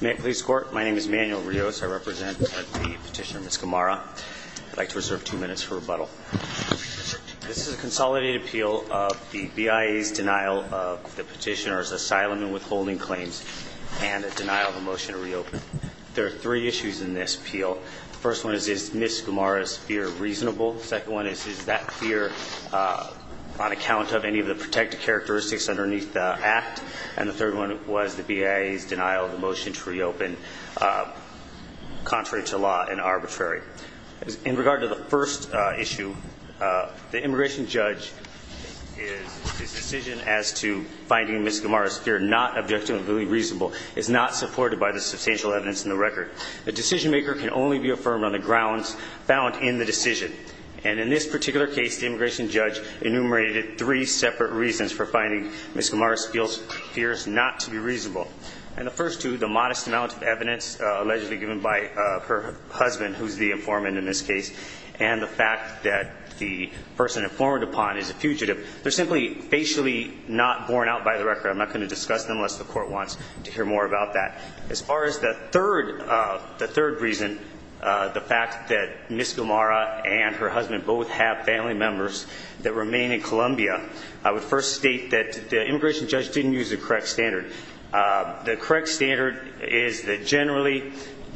May it please the Court, my name is Manuel Rios. I represent the petitioner Ms. Gamarra. I'd like to reserve two minutes for rebuttal. This is a consolidated appeal of the BIA's denial of the petitioner's asylum and withholding claims and a denial of a motion to reopen. There are three issues in this appeal. The first one is, is Ms. Gamarra's fear reasonable? The second one is, is that fear on account of any of the protected characteristics underneath the act? And the third one was the BIA's denial of the motion to reopen, contrary to law and arbitrary. In regard to the first issue, the immigration judge's decision as to finding Ms. Gamarra's fear not objectively reasonable is not supported by the substantial evidence in the record. The decision maker can only be affirmed on the grounds found in the decision. And in this particular case, the immigration judge enumerated three separate reasons for finding Ms. Gamarra's fears not to be reasonable. And the first two, the modest amount of evidence allegedly given by her husband, who's the informant in this case, and the fact that the person informed upon is a fugitive, they're simply facially not borne out by the record. I'm not going to discuss them unless the court wants to hear more about that. As far as the third reason, the fact that Ms. Gamarra and her husband both have family members that remain in Colombia, I would first state that the immigration judge didn't use the correct standard. The correct standard is that generally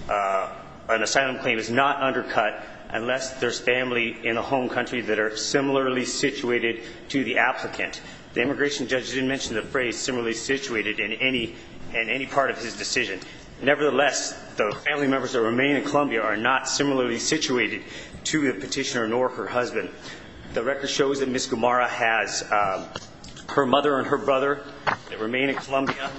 an asylum claim is not undercut unless there's family in the home country that are similarly situated to the applicant. The immigration judge didn't mention the phrase similarly situated in any part of his decision. Nevertheless, the family members that remain in Colombia are not similarly situated to the petitioner nor her husband. The record shows that Ms. Gamarra has her mother and her brother that remain in Colombia.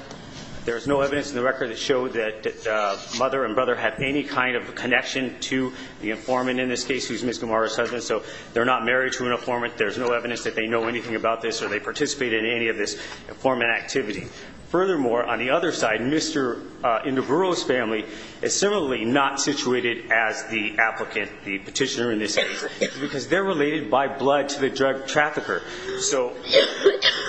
There's no evidence in the record that showed that the mother and brother have any kind of connection to the informant in this case, Ms. Gamarra's husband, so they're not married to an informant. There's no evidence that they know anything about this or they participate in any of this informant activity. Furthermore, on the other side, Mr. Induburo's family is similarly not situated as the applicant, the petitioner in this case, because they're related by blood to the drug trafficker. So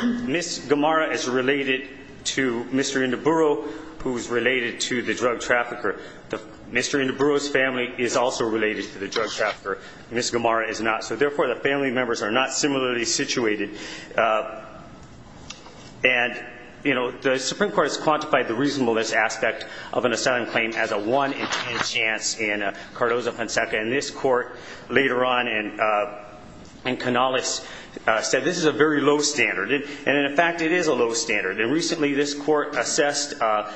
Ms. Gamarra is related to Mr. Induburo, who is related to the drug trafficker. Mr. Induburo's family is also related to the drug trafficker. Ms. Gamarra is not. So, therefore, the family members are not similarly situated. And, you know, the Supreme Court has quantified the reasonableness aspect of an asylum claim as a 1 in 10 chance in Cardozo-Ponceca. And this court, later on in Canales, said this is a very low standard. And, in fact, it is a low standard. And, recently, this court assessed a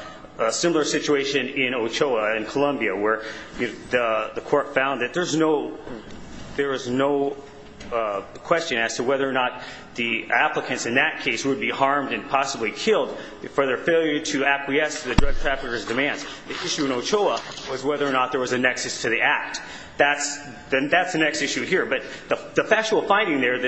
similar situation in Ochoa, in Colombia, where the court found that there is no question as to whether or not the applicants in that case would be harmed and possibly killed for their failure to acquiesce to the drug trafficker's demands. The issue in Ochoa was whether or not there was a nexus to the act. That's the next issue here. But the factual finding there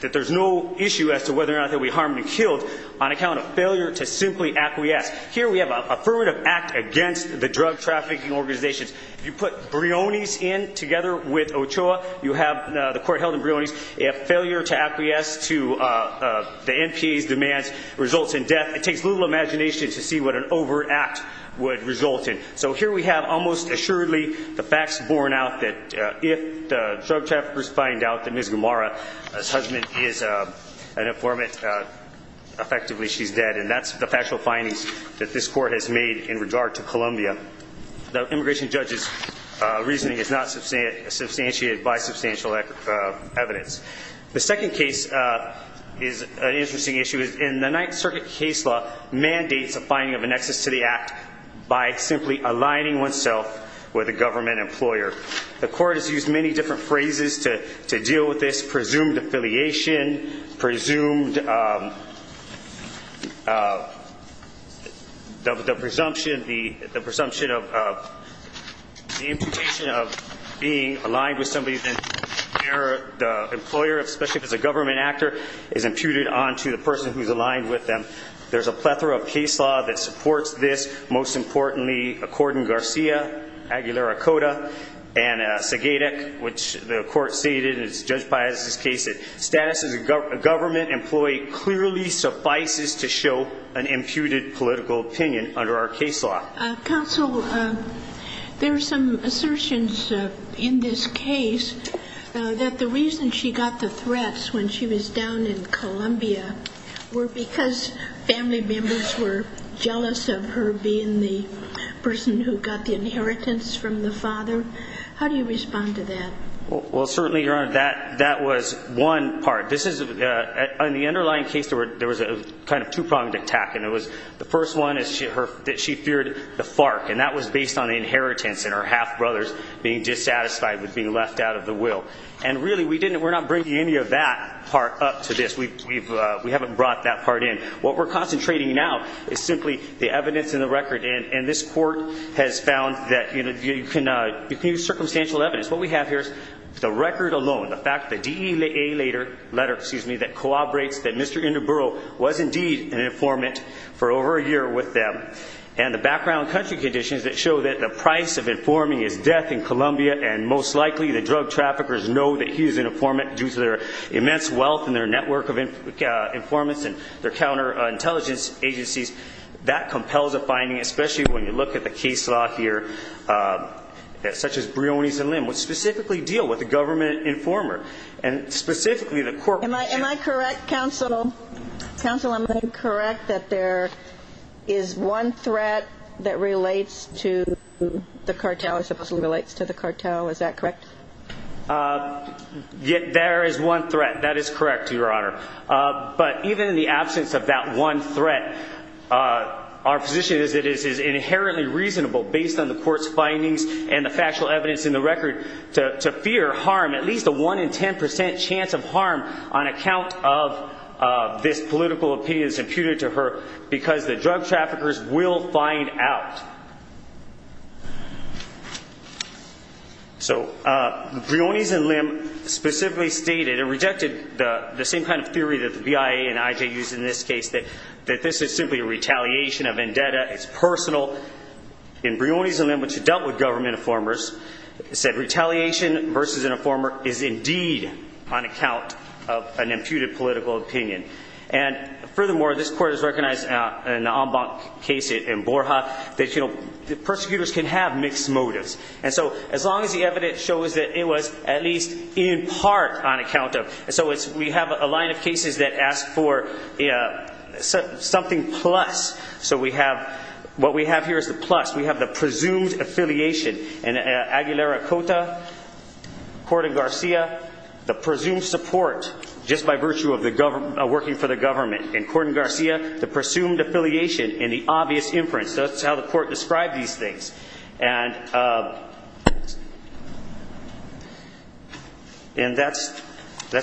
that there's no issue as to whether or not they'll be harmed and killed on account of failure to simply acquiesce. Here we have an affirmative act against the drug trafficking organizations. If you put Briones in together with Ochoa, you have the court held in Briones. If failure to acquiesce to the NPA's demands results in death, it takes little imagination to see what an overact would result in. So here we have almost assuredly the facts borne out that if the drug traffickers find out that Ms. Gomara's husband is an informant, effectively she's dead. And that's the factual findings that this court has made in regard to Colombia. The immigration judge's reasoning is not substantiated by substantial evidence. The second case is an interesting issue. The Ninth Circuit case law mandates a finding of a nexus to the act by simply aligning oneself with a government employer. The court has used many different phrases to deal with this. The presumption of being aligned with somebody, the employer, especially if it's a government actor, is imputed onto the person who's aligned with them. There's a plethora of case law that supports this. Most importantly, according to Garcia, Aguilera-Cota, and Segadec, which the court stated, and it's judged by this case that status as a government employee clearly suffices to show an imputed political opinion under our case law. Counsel, there are some assertions in this case that the reason she got the threats when she was down in Colombia were because family members were jealous of her being the person who got the inheritance from the father. How do you respond to that? Well, certainly, Your Honor, that was one part. In the underlying case, there was a kind of two-pronged attack. The first one is that she feared the FARC, and that was based on the inheritance and her half-brothers being dissatisfied with being left out of the will. And really, we're not bringing any of that part up to this. We haven't brought that part in. What we're concentrating now is simply the evidence and the record, and this court has found that you can use circumstantial evidence. What we have here is the record alone, the fact that the DEA letter, excuse me, that corroborates that Mr. Induburo was indeed an informant for over a year with them, and the background country conditions that show that the price of informing is death in Colombia, and most likely the drug traffickers know that he's an informant due to their immense wealth and their network of informants and their counterintelligence agencies. That compels a finding, especially when you look at the case law here, such as Briones and Lim, which specifically deal with a government informer, and specifically the court. Am I correct, counsel? Counsel, am I correct that there is one threat that relates to the cartel, or supposedly relates to the cartel? Is that correct? There is one threat. That is correct, Your Honor. But even in the absence of that one threat, our position is it is inherently reasonable, based on the court's findings and the factual evidence in the record, to fear harm, at least a 1 in 10 percent chance of harm on account of this political opinion that is imputed to her, because the drug traffickers will find out. So, Briones and Lim specifically stated and rejected the same kind of theory that the BIA and IJ used in this case, that this is simply a retaliation, a vendetta, it's personal. In Briones and Lim, which dealt with government informers, it said retaliation versus an informer is indeed on account of an imputed political opinion. And furthermore, this court has recognized in the Ambank case in Borja that the persecutors can have mixed motives. And so, as long as the evidence shows that it was at least in part on account of, and so we have a line of cases that ask for something plus, so what we have here is the plus. We have the presumed affiliation. In Aguilera-Cota, Corden-Garcia, the presumed support just by virtue of working for the government. In Corden-Garcia, the presumed affiliation in the obvious inference. That's how the court described these things. And that's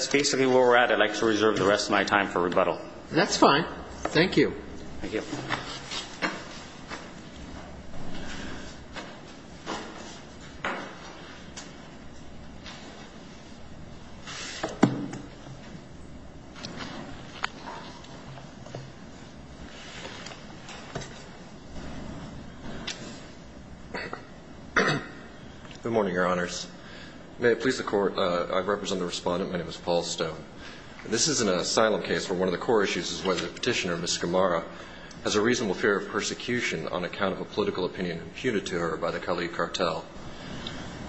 basically where we're at. I'd like to reserve the rest of my time for rebuttal. That's fine. Thank you. Thank you. Good morning, Your Honors. May it please the Court, I represent the Respondent. My name is Paul Stone. This is an asylum case where one of the core issues is whether the Petitioner, Ms. Gamara, has a reasonable fear of persecution on account of a political opinion imputed to her by the Cali cartel.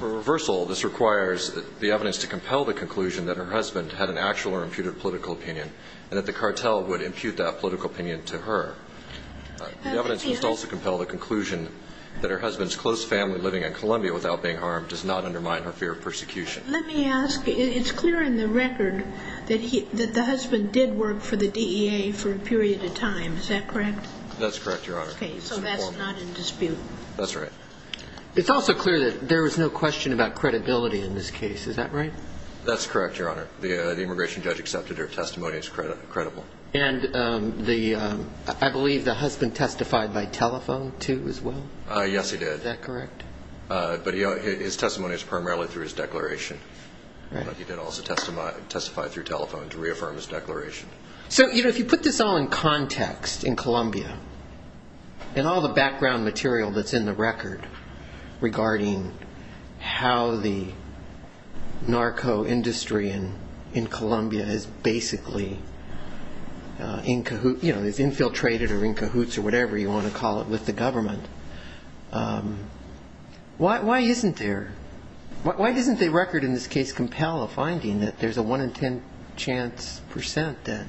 For reversal, this requires the evidence to compel the conclusion that her husband had an actual or imputed political opinion, and that the cartel would impute that political opinion to her. The evidence must also compel the conclusion that her husband's close family living in Colombia without being harmed does not undermine her fear of persecution. Let me ask. It's clear in the record that the husband did work for the DEA for a period of time. Is that correct? That's correct, Your Honor. Okay. So that's not in dispute. That's right. It's also clear that there was no question about credibility in this case. Is that right? That's correct, Your Honor. The immigration judge accepted her testimony as credible. And I believe the husband testified by telephone, too, as well? Yes, he did. Is that correct? But his testimony is primarily through his declaration. But he did also testify through telephone to reaffirm his declaration. So, you know, if you put this all in context in Colombia, and all the background material that's in the record regarding how the narco industry in Colombia is basically infiltrated or in cahoots or whatever you want to call it with the government, why isn't there? Why doesn't the record in this case compel a finding that there's a 1 in 10 chance percent that,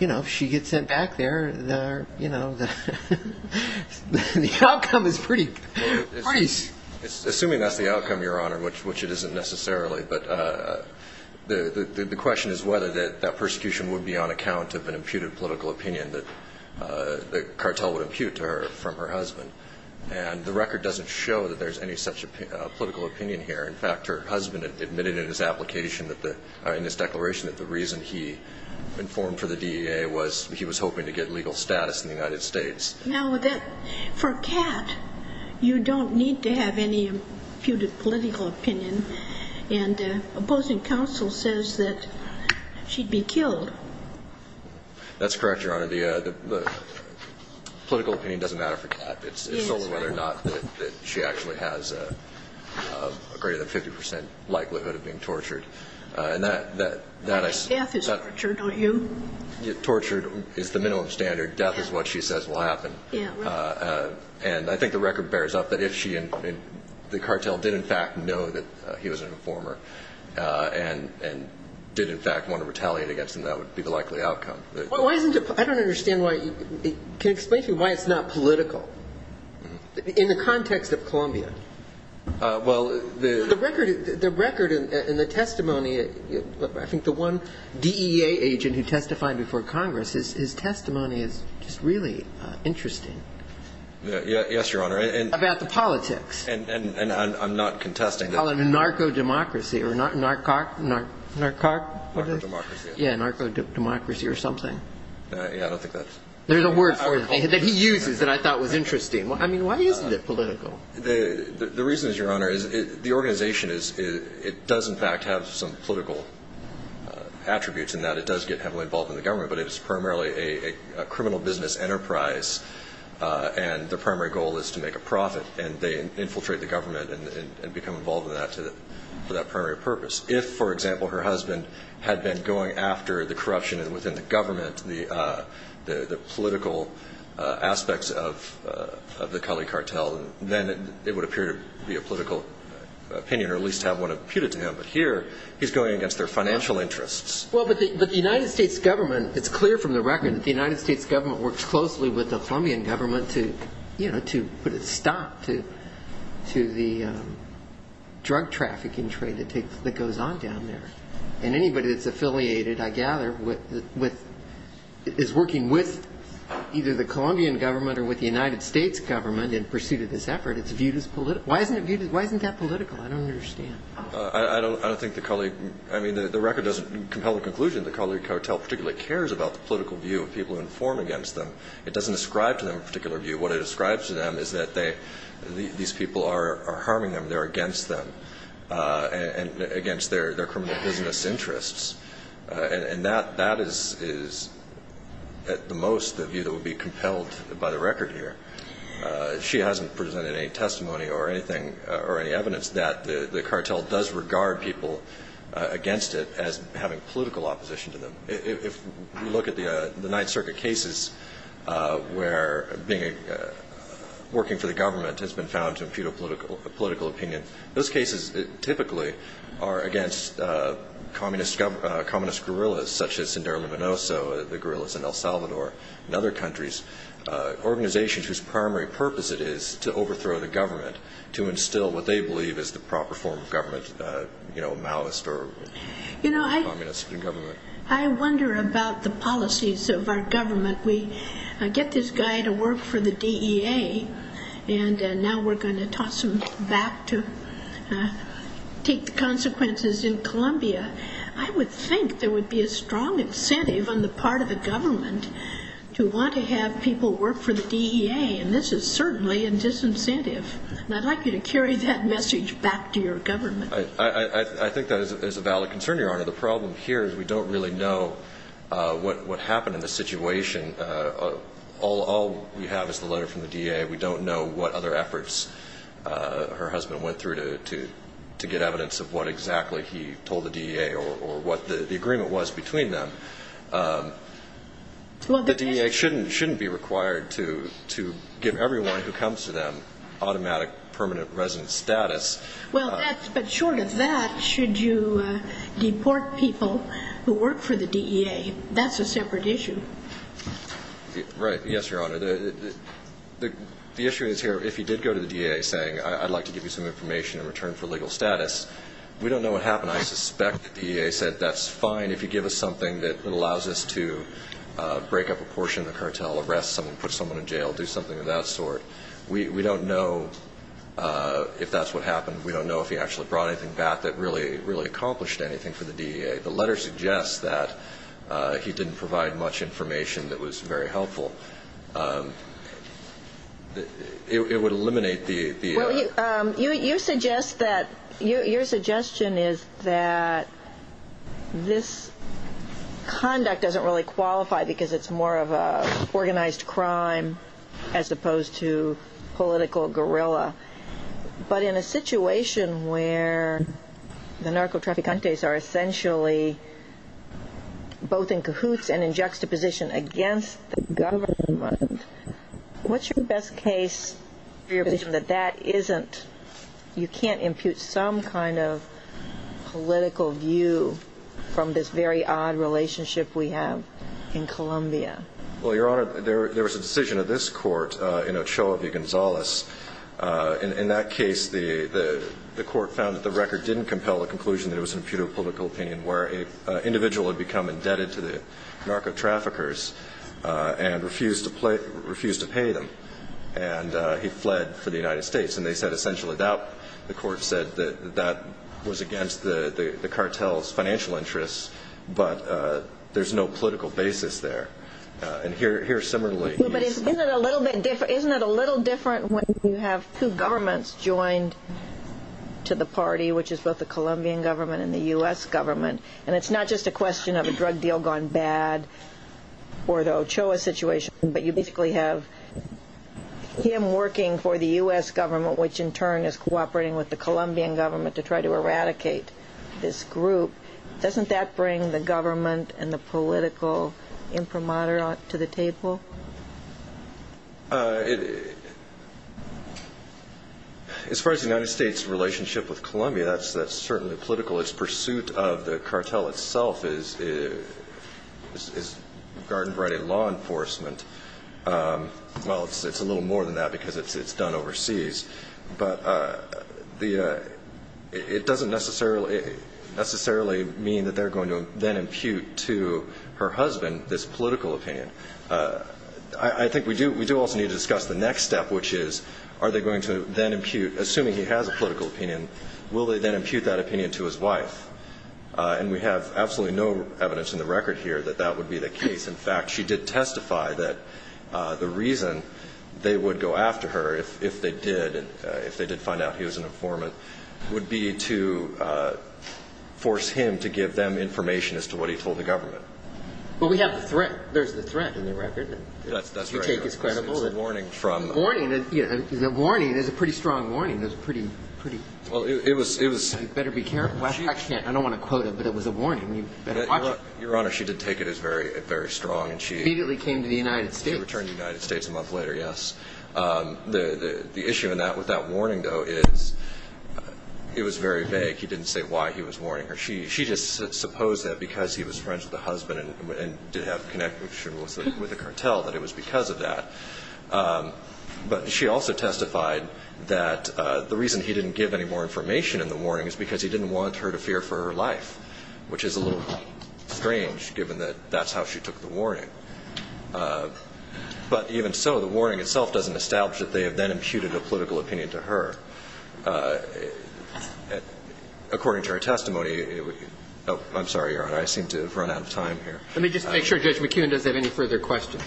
you know, if she gets sent back there, you know, the outcome is pretty nice? Assuming that's the outcome, Your Honor, which it isn't necessarily, but the question is whether that persecution would be on account of an imputed political opinion that the cartel would impute to her from her husband. And the record doesn't show that there's any such political opinion here. In fact, her husband admitted in his application that the ñ in his declaration that the reason he informed for the DEA was he was hoping to get legal status in the United States. Now, for Cat, you don't need to have any imputed political opinion. And opposing counsel says that she'd be killed. That's correct, Your Honor. The political opinion doesn't matter for Cat. It's only whether or not that she actually has a greater than 50 percent likelihood of being tortured. Death is torture, don't you? Torture is the minimum standard. Death is what she says will happen. And I think the record bears up that if she and the cartel did in fact know that he was an informer and did in fact want to retaliate against him, that would be the likely outcome. Why isn't it ñ I don't understand why ñ can you explain to me why it's not political in the context of Columbia? Well, the ñ The record and the testimony ñ I think the one DEA agent who testified before Congress, his testimony is just really interesting. Yes, Your Honor. About the politics. And I'm not contesting that ñ They call it a narco-democracy or a narco-democracy or something. Yeah, I don't think that's ñ There's a word for it that he uses that I thought was interesting. I mean, why isn't it political? The reason is, Your Honor, is the organization is ñ it does in fact have some political attributes in that. It does get heavily involved in the government, but it is primarily a criminal business enterprise, and the primary goal is to make a profit, and they infiltrate the government and become involved in that for that primary purpose. If, for example, her husband had been going after the corruption within the government, the political aspects of the Cully cartel, then it would appear to be a political opinion or at least have one imputed to him. But here he's going against their financial interests. Well, but the United States government ñ you know, to put a stop to the drug trafficking trade that goes on down there. And anybody that's affiliated, I gather, is working with either the Colombian government or with the United States government in pursuit of this effort, it's viewed as political. Why isn't that political? I don't understand. I don't think the Cully ñ I mean, the record doesn't compel a conclusion. The Cully cartel particularly cares about the political view of people who inform against them. It doesn't ascribe to them a particular view. What it ascribes to them is that they ñ these people are harming them. They're against them and against their criminal business interests. And that is at the most the view that would be compelled by the record here. She hasn't presented any testimony or anything or any evidence that the cartel does regard people against it as having political opposition to them. If you look at the Ninth Circuit cases where being ñ working for the government has been found to impute a political opinion, those cases typically are against communist guerrillas such as Indira Luminoso, the guerrillas in El Salvador and other countries, organizations whose primary purpose it is to overthrow the government, to instill what they believe is the proper form of government, you know, Maoist or communist government. I wonder about the policies of our government. We get this guy to work for the DEA, and now we're going to toss him back to take the consequences in Colombia. I would think there would be a strong incentive on the part of the government to want to have people work for the DEA, and this is certainly a disincentive. And I'd like you to carry that message back to your government. I think that is a valid concern, Your Honor. The problem here is we don't really know what happened in the situation. All we have is the letter from the DEA. We don't know what other efforts her husband went through to get evidence of what exactly he told the DEA or what the agreement was between them. The DEA shouldn't be required to give everyone who comes to them automatic permanent residence status. Well, but short of that, should you deport people who work for the DEA? That's a separate issue. Right. Yes, Your Honor. The issue is here, if he did go to the DEA saying, I'd like to give you some information in return for legal status, we don't know what happened. I suspect the DEA said that's fine if you give us something that allows us to break up a portion of the cartel, arrest someone, put someone in jail, do something of that sort. We don't know if that's what happened. We don't know if he actually brought anything back that really accomplished anything for the DEA. The letter suggests that he didn't provide much information that was very helpful. It would eliminate the... Well, you suggest that, your suggestion is that this conduct doesn't really qualify because it's more of an organized crime as opposed to political guerrilla. But in a situation where the narcotraficantes are essentially both in cahoots and in juxtaposition against the government, what's your best case for your position that that isn't, you can't impute some kind of political view from this very odd relationship we have in Colombia? Well, Your Honor, there was a decision of this court in Ochoa v. Gonzales. In that case, the court found that the record didn't compel the conclusion that it was an imputable political opinion where an individual had become indebted to the narcotraffickers and refused to pay them. And he fled for the United States. And they said essentially that the court said that that was against the cartel's financial interests, but there's no political basis there. And here similarly... But isn't it a little different when you have two governments joined to the party, which is both the Colombian government and the U.S. government? And it's not just a question of a drug deal gone bad or the Ochoa situation, but you basically have him working for the U.S. government, which in turn is cooperating with the Colombian government to try to eradicate this group. Doesn't that bring the government and the political imprimatur to the table? As far as the United States' relationship with Colombia, that's certainly political. Its pursuit of the cartel itself is garden variety law enforcement. Well, it's a little more than that because it's done overseas. But it doesn't necessarily mean that they're going to then impute to her husband this political opinion. I think we do also need to discuss the next step, which is are they going to then impute, assuming he has a political opinion, will they then impute that opinion to his wife? And we have absolutely no evidence in the record here that that would be the case. In fact, she did testify that the reason they would go after her if they did find out he was an informant would be to force him to give them information as to what he told the government. Well, we have the threat. There's the threat in the record. That's right. The take is credible. It's a warning from... It's a warning. It's a warning. It's a pretty strong warning. It was pretty... Well, it was... You better be careful. I can't. I don't want to quote it, but it was a warning. You better watch it. Your Honor, she did take it as very strong. And she... Immediately came to the United States. She returned to the United States a month later, yes. The issue with that warning, though, is it was very vague. He didn't say why he was warning her. She just supposed that because he was friends with the husband and did have connections with the cartel, that it was because of that. But she also testified that the reason he didn't give any more information in the warning is because he didn't want her to fear for her life, which is a little strange given that that's how she took the warning. But even so, the warning itself doesn't establish that they have then imputed a political opinion to her. According to her testimony... Oh, I'm sorry, Your Honor. I seem to have run out of time here. Let me just make sure Judge McKeon doesn't have any further questions.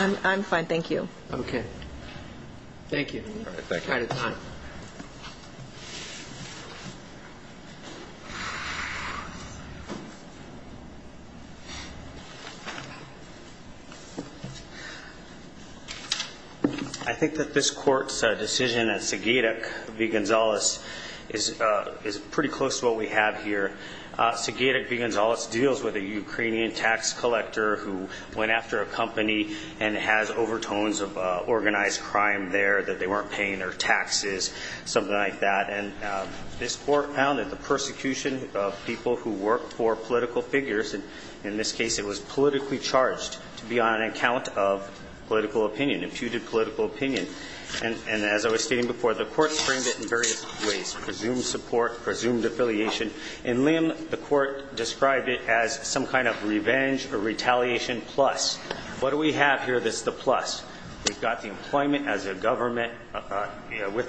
I'm fine, thank you. Thank you. All right, thank you. I'm out of time. I think that this Court's decision that Segedek v. Gonzalez is pretty close to what we have here. Segedek v. Gonzalez deals with a Ukrainian tax collector who went after a company and has overtones of organized crime there that they weren't paying their taxes, something like that. And this Court found that the persecution of people who work for political figures, in this case it was politically charged to be on account of political opinion, imputed political opinion. And as I was stating before, the Court framed it in various ways, presumed support, presumed affiliation. In Lim, the Court described it as some kind of revenge or retaliation plus. What do we have here that's the plus? We've got the employment with the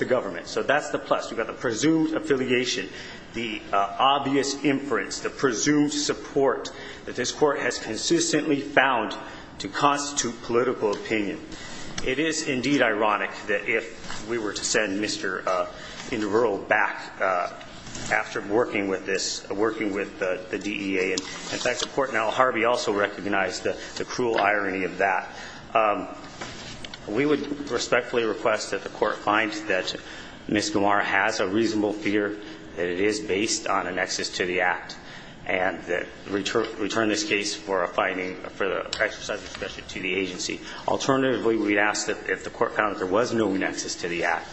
government, so that's the plus. We've got the presumed affiliation, the obvious inference, the presumed support that this Court has consistently found to constitute political opinion. It is, indeed, ironic that if we were to send Mr. Indivural back after working with this, working with the DEA, and in fact the Court in Al Harvey also recognized the cruel irony of that. We would respectfully request that the Court find that Ms. Gamar has a reasonable fear that it is based on a nexus to the act and return this case for a finding, for the exercise of discretion to the agency. Alternatively, we'd ask that if the Court found that there was no nexus to the act,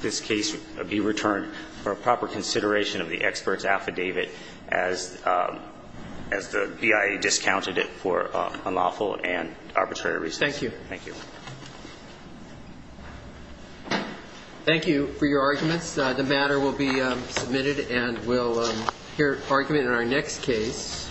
this case be returned for proper consideration of the expert's affidavit as the BIA discounted it for unlawful and arbitrary reasons. Thank you. Thank you. Thank you for your arguments. The matter will be submitted, and we'll hear argument in our next case.